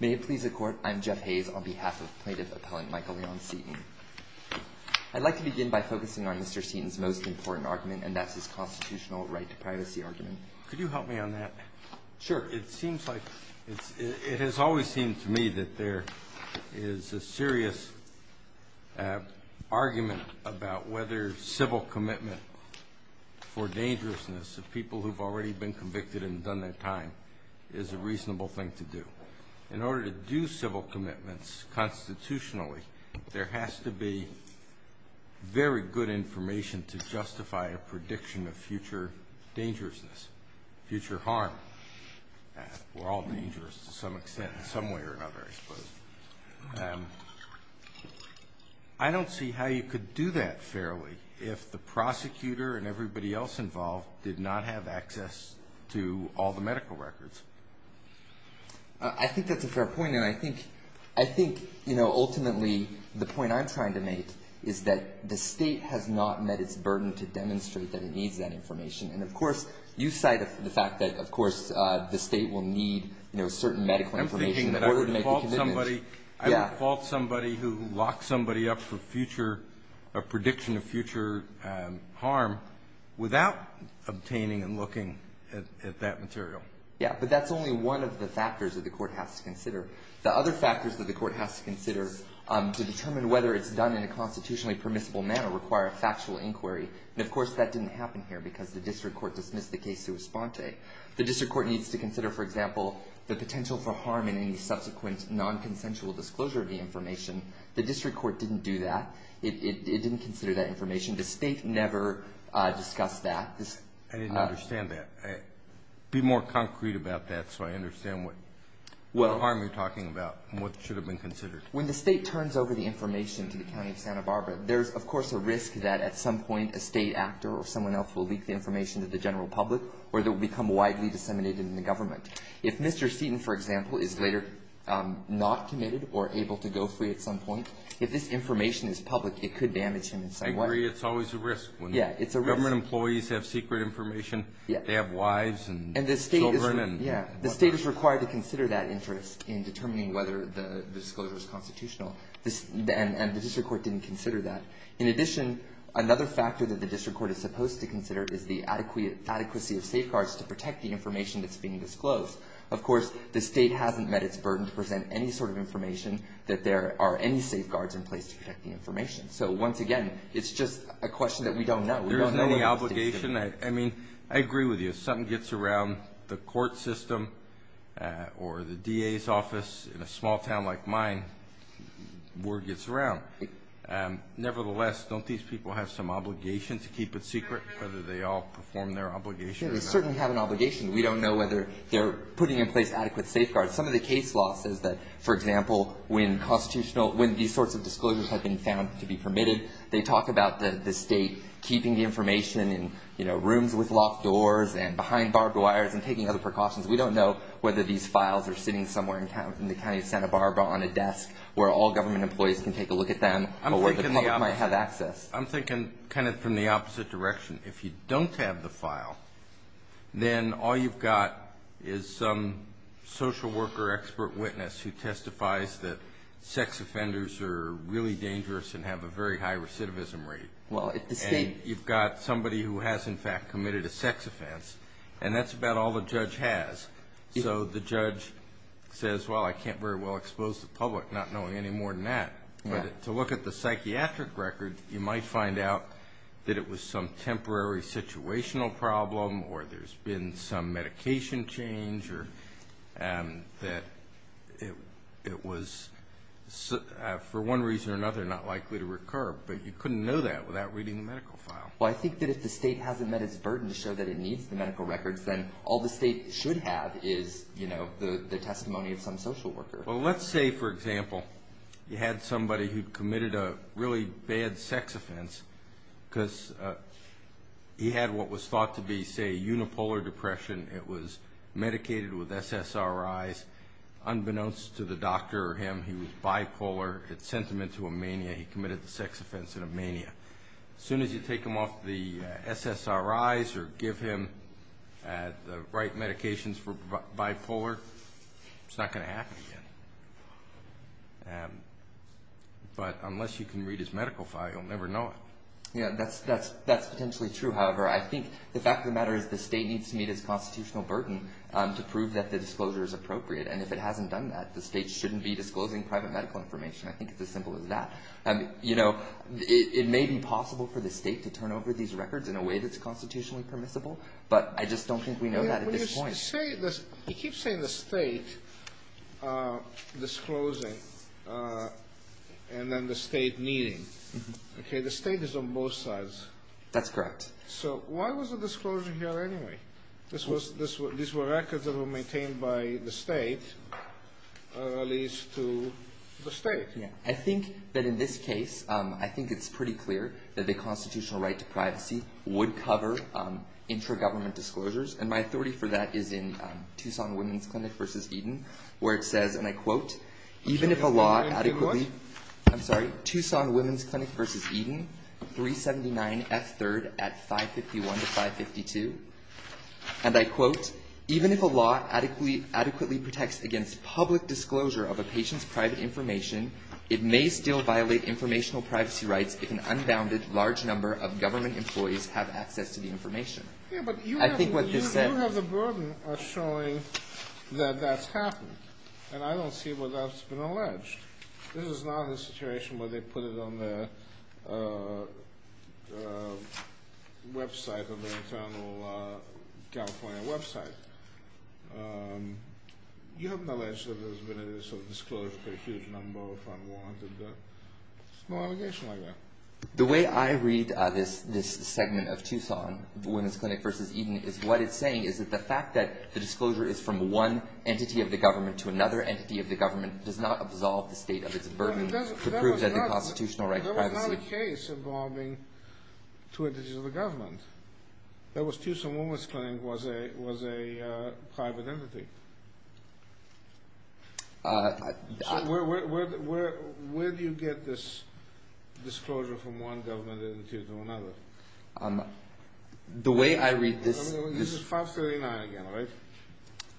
May it please the Court, I'm Jeff Hayes, on behalf of plaintiff appellant Michael Leon Seaton. I'd like to begin by focusing on Mr. Seaton's most important argument, and that's his constitutional right to privacy argument. Could you help me on that? Sure. It seems like – it has always seemed to me that there is a serious argument about whether civil commitment for dangerousness of people who've already been convicted and done their time is a reasonable thing to do. In order to do civil commitments constitutionally, there has to be very good information to justify a prediction of future dangerousness, future harm. We're all dangerous to some extent in some way or another, I suppose. I don't see how you could do that fairly if the prosecutor and everybody else involved did not have access to all the medical records. I think that's a fair point, and I think ultimately the point I'm trying to make is that the state has not met its burden to demonstrate that it needs that information. And of course, you cite the fact that of course the state will need certain medical information in order to make a commitment. I would fault somebody who locks somebody up for prediction of future harm without obtaining and looking at that material. Yeah, but that's only one of the factors that the court has to consider. The other factors that the court has to consider to determine whether it's done in a constitutionally permissible manner require a factual inquiry, and of course that didn't happen here because the district court dismissed the case to Esponte. The district court needs to consider, for example, the potential for harm in any subsequent non-consensual disclosure of the information. The district court didn't do that. It didn't consider that information. The state never discussed that. I didn't understand that. Be more concrete about that so I understand what harm you're talking about and what should have been considered. When the state turns over the information to the County of Santa Barbara, there's of course a risk that at some point a state actor or someone else will leak the information to the general public or it will become widely disseminated in the government. If Mr. Seaton, for example, is later not committed or able to go free at some point, if this information is public, it could damage him in some way. I agree it's always a risk. Yeah, it's a risk. Government employees have secret information. Yeah. They have wives and children and whatnot. Yeah, the state is required to consider that interest in determining whether the disclosure is constitutional, and the district court didn't consider that. In addition, another factor that the district court is supposed to consider is the adequacy of safeguards to protect the information that's being disclosed. Of course, the state hasn't met its burden to present any sort of information that there are any safeguards in place to protect the information. So once again, it's just a question that we don't know. There is no obligation. I mean, I agree with you. If something gets around the court system or the DA's office in a small town like mine, word gets around. Nevertheless, don't these people have some obligation to keep it secret, whether they all perform their obligation? Yeah, they certainly have an obligation. We don't know whether they're putting in place adequate safeguards. Some of the case law says that, for example, when these sorts of disclosures have been found to be permitted, they talk about the state keeping the information in rooms with locked doors and behind barbed wires and taking other precautions. We don't know whether these files are sitting somewhere in the county of Santa Barbara on a desk where all government employees can take a look at them or where the public might have access. I'm thinking kind of from the opposite direction. If you don't have the file, then all you've got is some social worker expert witness who testifies that sex offenders are really dangerous and have a very high recidivism rate. And you've got somebody who has, in fact, committed a sex offense, and that's about all the judge has. So the judge says, well, I can't very well expose the public, not knowing any more than that. But to look at the psychiatric record, you might find out that it was some temporary situational problem or there's been some medication change or that it was, for one reason or another, not likely to recur. But you couldn't know that without reading the medical file. Well, I think that if the state hasn't met its burden to show that it needs the medical records, then all the state should have is the testimony of some social worker. Well, let's say, for example, you had somebody who committed a really bad sex offense because he had what was thought to be, say, unipolar depression. It was medicated with SSRIs. Unbeknownst to the doctor or him, he was bipolar. It sent him into a mania. He committed the sex offense in a mania. As soon as you take him off the SSRIs or give him the right medications for bipolar, it's not going to happen again. But unless you can read his medical file, you'll never know it. Yeah, that's potentially true. However, I think the fact of the matter is the state needs to meet its constitutional burden to prove that the disclosure is appropriate. And if it hasn't done that, the state shouldn't be disclosing private medical information. I think it's as simple as that. You know, it may be possible for the state to turn over these records in a way that's constitutionally permissible, but I just don't think we know that at this point. When you say this, you keep saying the state disclosing and then the state meeting. Okay, the state is on both sides. That's correct. So why was the disclosure here anyway? These were records that were maintained by the state, at least to the state. I think that in this case, I think it's pretty clear that the constitutional right to privacy would cover intra-government disclosures. And my authority for that is in Tucson Women's Clinic v. Eden, where it says, and I quote, even if a law adequately protects against public disclosure of a patient's private information, it may still violate informational privacy rights if an unbounded large number of government employees have access to the information. Yeah, but you have the burden of showing that that's happened. And I don't see where that's been alleged. This is not a situation where they put it on their website, on their internal California website. You have knowledge that there's been a disclosure of a huge number of unwanted small allegations like that. The way I read this segment of Tucson Women's Clinic v. Eden is what it's saying is that the fact that the disclosure is from one entity of the government to another entity of the government does not absolve the state of its burden to prove that the constitutional right to privacy. There was not a case involving two entities of the government. That was Tucson Women's Clinic was a private entity. So where do you get this disclosure from one government entity to another? The way I read this. This is 539 again, right?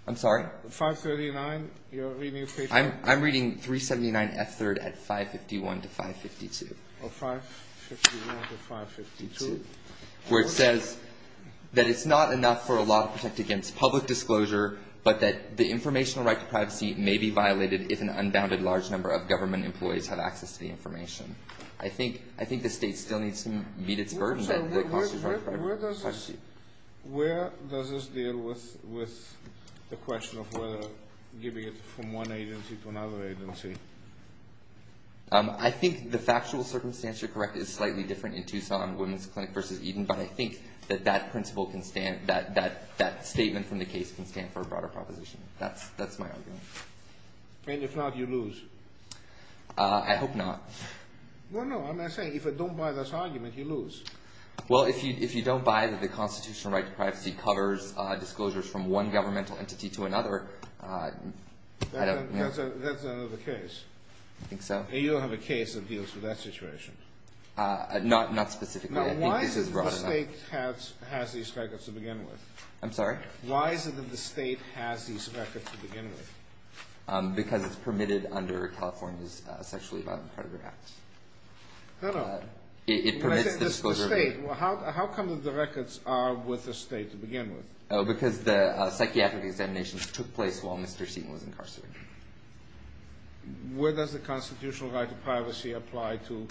I'm sorry? 539, you're reading a patient? I'm reading 379 F3rd at 551 to 552. Oh, 551 to 552. Where it says that it's not enough for a law to protect against public disclosure, but that the informational right to privacy may be violated if an unbounded large number of government employees have access to the information. I think the state still needs to meet its burden. Where does this deal with the question of whether giving it from one agency to another agency? I think the factual circumstance, you're correct, is slightly different in Tucson Women's Clinic versus Eden, but I think that that principle can stand, that statement from the case can stand for a broader proposition. That's my argument. And if not, you lose? I hope not. Well, no, I'm not saying if you don't buy this argument, you lose. Well, if you don't buy that the constitutional right to privacy covers disclosures from one governmental entity to another, I don't know. That's another case. I think so. You don't have a case that deals with that situation. Not specifically. Now, why is it the state has these records to begin with? I'm sorry? Why is it that the state has these records to begin with? Because it's permitted under California's Sexually Violent Predator Act. No, no. It permits the disclosure. How come the records are with the state to begin with? Because the psychiatric examinations took place while Mr. Seaton was incarcerated. Where does the constitutional right to privacy apply to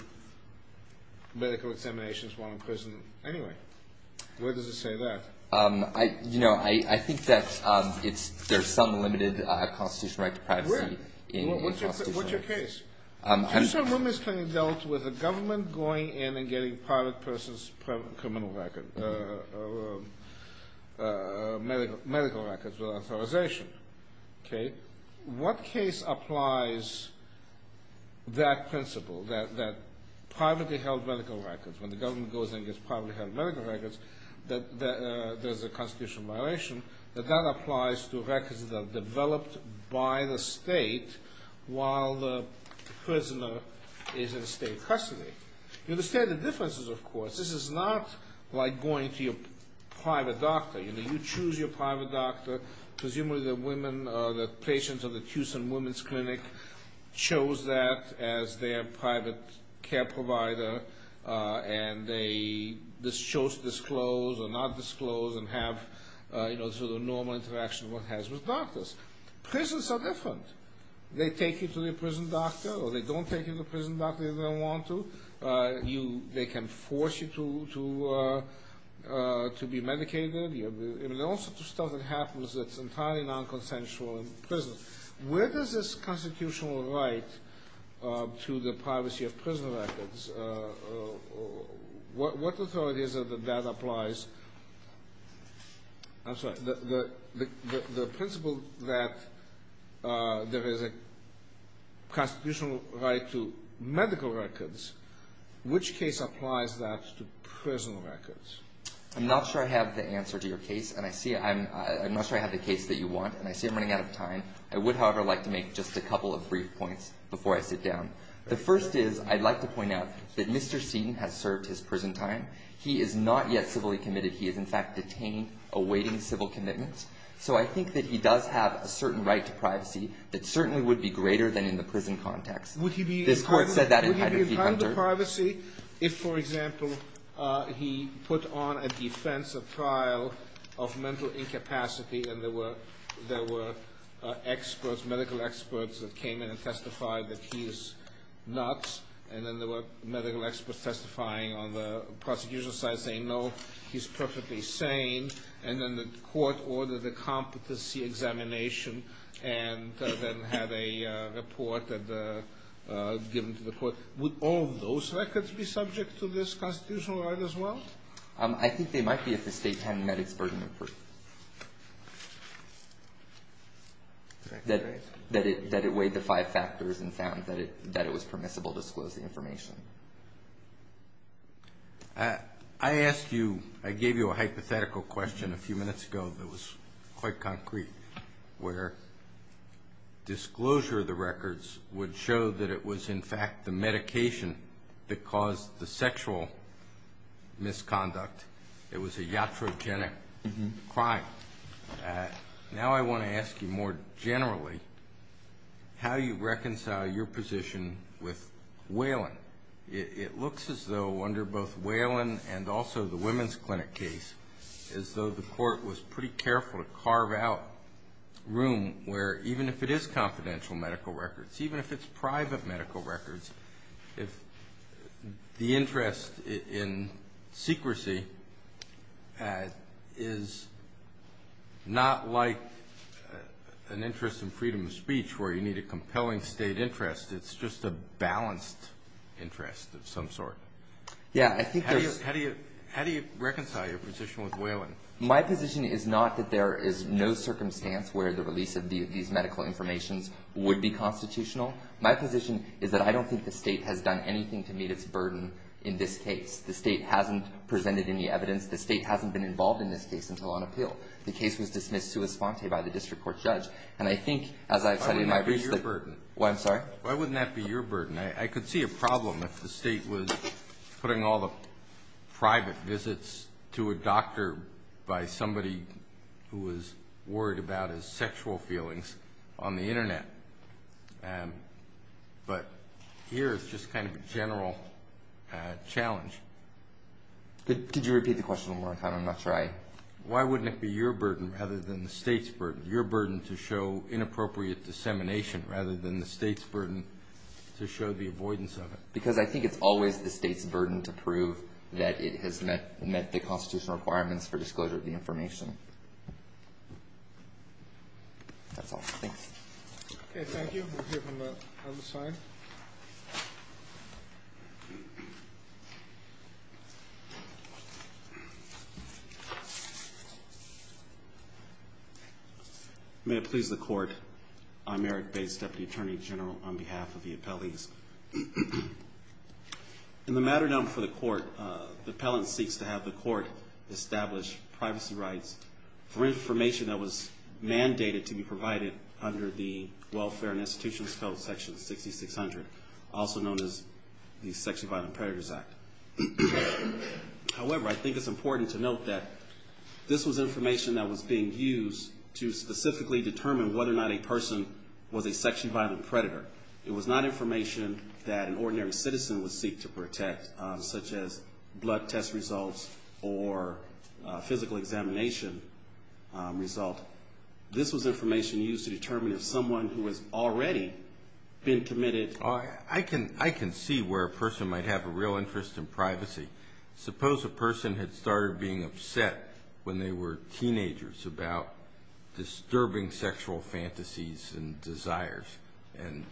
medical examinations while in prison anyway? Where does it say that? You know, I think that there's some limited constitutional right to privacy. Where? What's your case? Mr. Mumitz can be dealt with a government going in and getting private person's criminal record, medical records with authorization. Okay? What case applies that principle, that privately held medical records, when the government goes in and gets privately held medical records, that there's a constitutional violation, that that applies to records that are developed by the state while the prisoner is in state custody? You understand the differences, of course. This is not like going to your private doctor. You know, you choose your private doctor. Presumably the women, the patients of the Tucson Women's Clinic chose that as their private care provider. And they chose to disclose or not disclose and have, you know, the sort of normal interaction one has with doctors. Prisons are different. They take you to the prison doctor or they don't take you to the prison doctor if they don't want to. They can force you to be medicated. There are all sorts of stuff that happens that's entirely non-consensual in prison. Where does this constitutional right to the privacy of prison records, what authority is it that that applies? I'm sorry. The principle that there is a constitutional right to medical records, which case applies that to prison records? I'm not sure I have the answer to your case. And I see I'm not sure I have the case that you want. And I see I'm running out of time. I would, however, like to make just a couple of brief points before I sit down. The first is I'd like to point out that Mr. Seaton has served his prison time. He is not yet civilly committed. He is, in fact, detaining, awaiting civil commitments. So I think that he does have a certain right to privacy that certainly would be greater than in the prison context. Would he be entitled to privacy if, for example, he put on a defensive trial of mental incapacity and there were experts, medical experts, that came in and testified that he is nuts, and then there were medical experts testifying on the prosecution side saying, no, he's perfectly sane, and then the court ordered a competency examination and then had a report given to the court? Would all of those records be subject to this constitutional right as well? I think they might be if the state had medics' version of proof that it weighed the five factors and found that it was permissible to disclose the information. I asked you, I gave you a hypothetical question a few minutes ago that was quite concrete, where disclosure of the records would show that it was, in fact, the medication that caused the sexual misconduct. It was a iatrogenic crime. Now I want to ask you more generally how you reconcile your position with Whalen. It looks as though under both Whalen and also the women's clinic case, as though the court was pretty careful to carve out room where, even if it is confidential medical records, even if it's private medical records, if the interest in secrecy is not like an interest in freedom of speech where you need a compelling state interest, it's just a balanced interest of some sort. How do you reconcile your position with Whalen? My position is not that there is no circumstance where the release of these medical informations would be constitutional. My position is that I don't think the state has done anything to meet its burden in this case. The state hasn't presented any evidence. The state hasn't been involved in this case until on appeal. The case was dismissed to a sponte by the district court judge. And I think as I've said in my briefs that- Why wouldn't that be your burden? I'm sorry? Why wouldn't that be your burden? I could see a problem if the state was putting all the private visits to a doctor by somebody who was worried about his sexual feelings on the Internet. But here it's just kind of a general challenge. Did you repeat the question one more time? I'm not sure I- Why wouldn't it be your burden rather than the state's burden? Your burden to show inappropriate dissemination rather than the state's burden to show the avoidance of it. Because I think it's always the state's burden to prove that it has met the constitutional requirements for disclosure of the information. That's all. Thanks. Okay. Thank you. We'll hear from the other side. May it please the court. I'm Eric Bates, Deputy Attorney General on behalf of the appellees. In the matter known for the court, the appellant seeks to have the court establish privacy rights for information that was mandated to be provided under the Welfare and Institutions Code, Section 6600, also known as the Sexually Violent Predators Act. However, I think it's important to note that this was information that was being used to specifically determine whether or not a person was a sexually violent predator. It was not information that an ordinary citizen would seek to protect, such as blood test results or a physical examination result. This was information used to determine if someone who has already been committed. I can see where a person might have a real interest in privacy. Suppose a person had started being upset when they were teenagers about disturbing sexual fantasies and desires and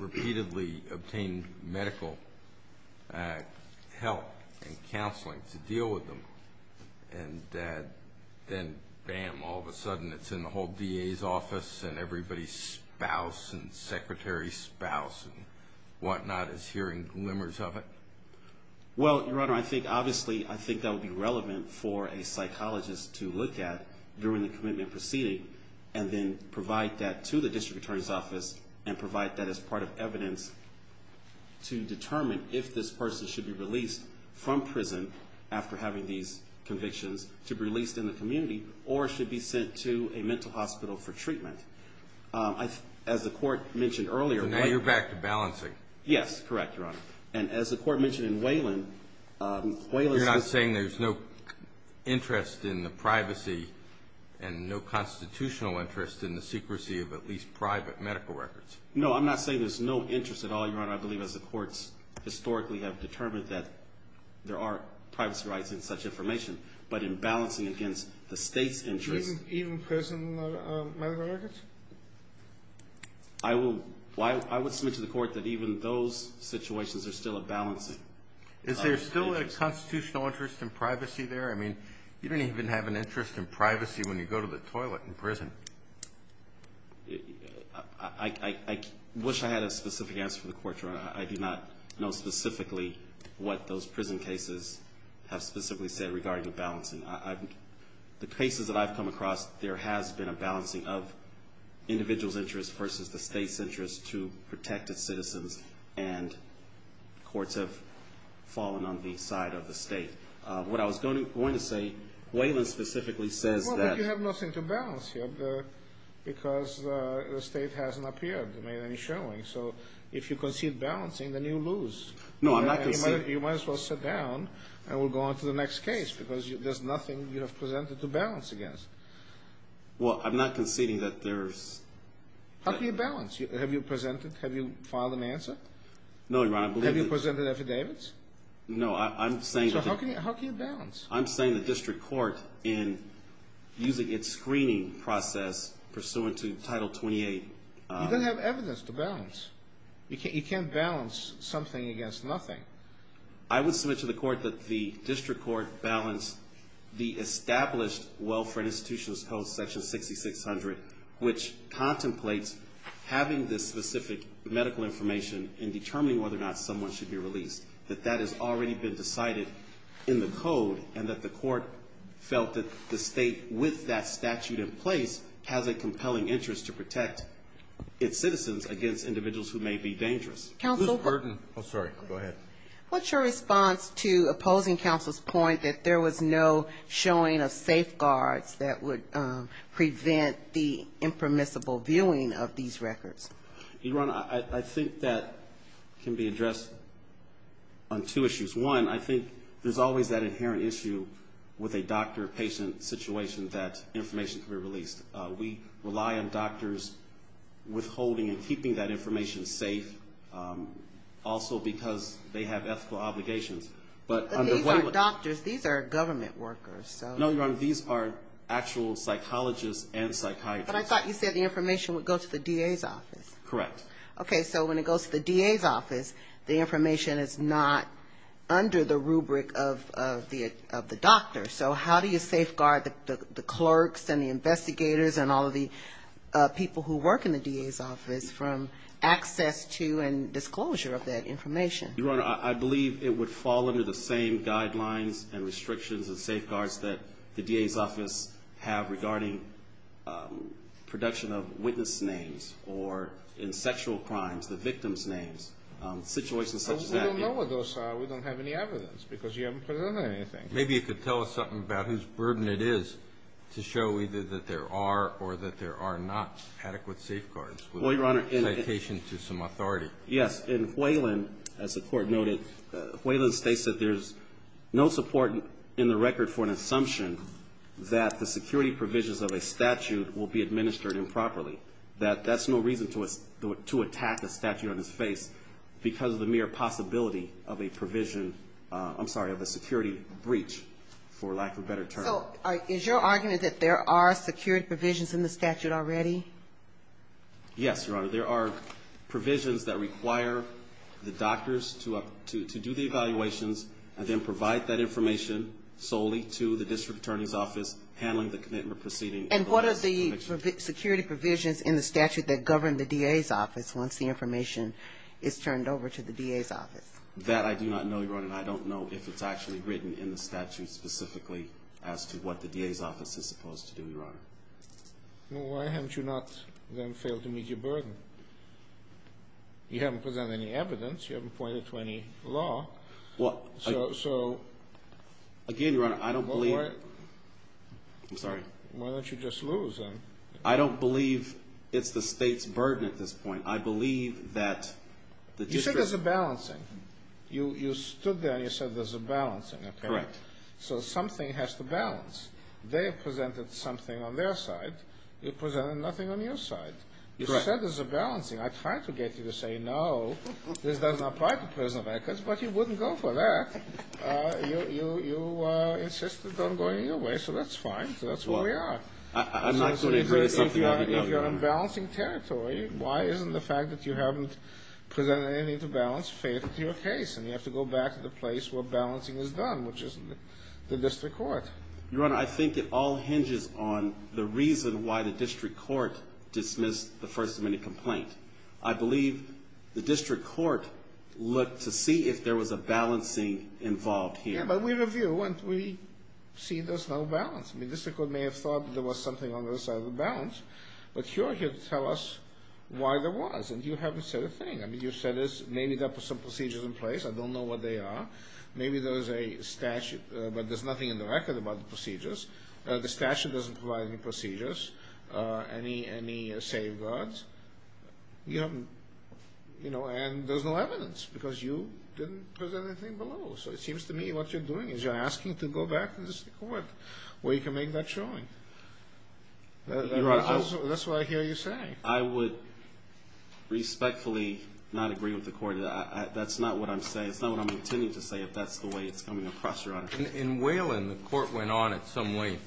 repeatedly obtained medical help and counseling to deal with them. And then, bam, all of a sudden it's in the whole DA's office and everybody's spouse and secretary's spouse and whatnot is hearing glimmers of it. Well, Your Honor, I think obviously I think that would be relevant for a psychologist to look at during the commitment proceeding and then provide that to the District Attorney's Office and provide that as part of evidence to determine if this person should be released from prison after having these convictions, to be released in the community, or should be sent to a mental hospital for treatment. As the Court mentioned earlier, So now you're back to balancing. Yes, correct, Your Honor. And as the Court mentioned in Waylon, You're not saying there's no interest in the privacy and no constitutional interest in the secrecy of at least private medical records? No, I'm not saying there's no interest at all, Your Honor. I believe as the courts historically have determined that there are privacy rights in such information. But in balancing against the State's interest, Even prison medical records? I would submit to the Court that even those situations are still a balancing. Is there still a constitutional interest in privacy there? I mean, you don't even have an interest in privacy when you go to the toilet in prison. I wish I had a specific answer for the Court, Your Honor. I do not know specifically what those prison cases have specifically said regarding balancing. The cases that I've come across, there has been a balancing of individuals' interest versus the State's interest to protect its citizens. And courts have fallen on the side of the State. What I was going to say, Waylon specifically says that Well, but you have nothing to balance here because the State hasn't appeared to make any showing. So if you concede balancing, then you lose. No, I'm not conceding You might as well sit down and we'll go on to the next case because there's nothing you have presented to balance against. Well, I'm not conceding that there's How can you balance? Have you filed an answer? No, Your Honor. Have you presented affidavits? No, I'm saying So how can you balance? I'm saying the District Court, in using its screening process pursuant to Title 28 You don't have evidence to balance. You can't balance something against nothing. I would submit to the Court that the District Court balanced the established Welfare and Institutions Code, Section 6600, which contemplates having this specific medical information and determining whether or not someone should be released. That that has already been decided in the Code and that the Court felt that the State, with that statute in place, has a compelling interest to protect its citizens against individuals who may be dangerous. Counsel Ms. Burton Oh, sorry. Go ahead. What's your response to opposing counsel's point that there was no showing of safeguards that would prevent the impermissible viewing of these records? Your Honor, I think that can be addressed on two issues. One, I think there's always that inherent issue with a doctor-patient situation that information can be released. We rely on doctors withholding and keeping that information safe, also because they have ethical obligations. But these are doctors. These are government workers. No, Your Honor. These are actual psychologists and psychiatrists. But I thought you said the information would go to the DA's office. Correct. Okay. So when it goes to the DA's office, the information is not under the rubric of the doctor. So how do you safeguard the clerks and the investigators and all of the people who work in the DA's office from access to and disclosure of that information? Your Honor, I believe it would fall under the same guidelines and restrictions and safeguards that the DA's office have regarding production of witness names or, in sexual crimes, the victim's names. Situations such as that. We don't know what those are. We don't have any evidence because you haven't presented anything. Maybe you could tell us something about whose burden it is to show either that there are or that there are not adequate safeguards with a citation to some authority. Yes. In Whalen, as the Court noted, Whalen states that there's no support in the record for an assumption that the security provisions of a statute will be administered improperly. That that's no reason to attack a statute on its face because of the mere possibility of a provision, I'm sorry, of a security breach, for lack of a better term. So is your argument that there are security provisions in the statute already? Yes, Your Honor. There are provisions that require the doctors to do the evaluations and then provide that information solely to the district attorney's office handling the commitment proceeding. And what are the security provisions in the statute that govern the DA's office once the information is turned over to the DA's office? That I do not know, Your Honor, and I don't know if it's actually written in the statute specifically as to what the DA's office is supposed to do, Your Honor. Well, why haven't you not, then, failed to meet your burden? You haven't presented any evidence. You haven't pointed to any law. Well, again, Your Honor, I don't believe it. I'm sorry. Why don't you just lose, then? I don't believe it's the State's burden at this point. I believe that the district attorney's office... You said there's a balancing. You stood there and you said there's a balancing, okay? Correct. So something has to balance. They have presented something on their side. You presented nothing on your side. You said there's a balancing. I tried to get you to say, no, this does not apply to prison records, but you wouldn't go for that. You insisted on going your way, so that's fine. So that's where we are. I'm not going to agree to something like that, Your Honor. If you're in balancing territory, why isn't the fact that you haven't presented anything to balance fated to your case? And you have to go back to the place where balancing is done, which is the district court. Your Honor, I think it all hinges on the reason why the district court dismissed the First Amendment complaint. I believe the district court looked to see if there was a balancing involved here. Yeah, but we review and we see there's no balance. The district court may have thought there was something on the other side of the balance, but you're here to tell us why there was, and you haven't said a thing. I mean, you said there may be some procedures in place. I don't know what they are. Maybe there's a statute, but there's nothing in the record about the procedures. The statute doesn't provide any procedures, any safeguards. You haven't, you know, and there's no evidence because you didn't present anything below. So it seems to me what you're doing is you're asking to go back to the district court where you can make that showing. That's what I hear you saying. I would respectfully not agree with the court. That's not what I'm saying. That's not what I'm going to continue to say if that's the way it's coming across your honor. In Whalen, the court went on in some way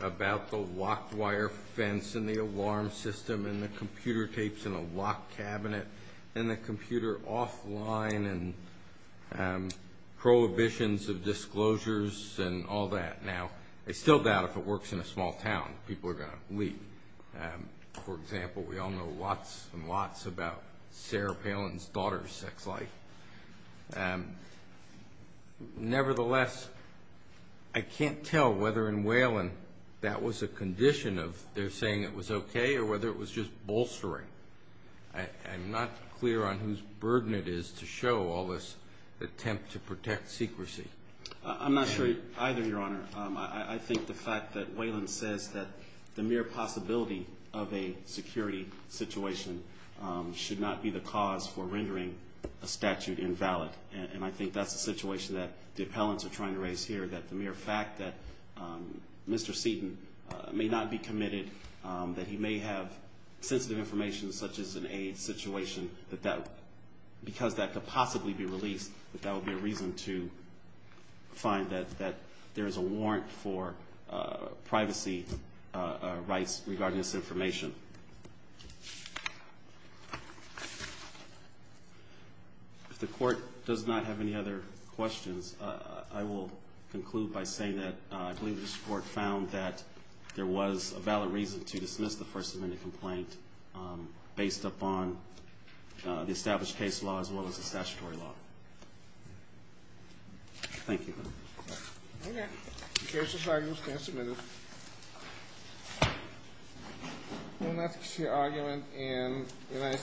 about the locked wire fence and the alarm system and the computer tapes in a locked cabinet and the computer offline and prohibitions of disclosures and all that. Now, I still doubt if it works in a small town that people are going to leave. For example, we all know lots and lots about Sarah Palin's daughter's sex life. Nevertheless, I can't tell whether in Whalen that was a condition of their saying it was okay or whether it was just bolstering. I'm not clear on whose burden it is to show all this attempt to protect secrecy. I'm not sure either, Your Honor. I think the fact that Whalen says that the mere possibility of a security situation should not be the cause for rendering a statute invalid, and I think that's the situation that the appellants are trying to raise here, that the mere fact that Mr. Seaton may not be committed, that he may have sensitive information such as an AIDS situation, because that could possibly be released, that that would be a reason to find that there is a warrant for privacy rights regarding this information. If the Court does not have any other questions, I will conclude by saying that I believe this Court found that there was a valid reason to dismiss the First Amendment complaint based upon the established case law as well as the statutory law. Thank you.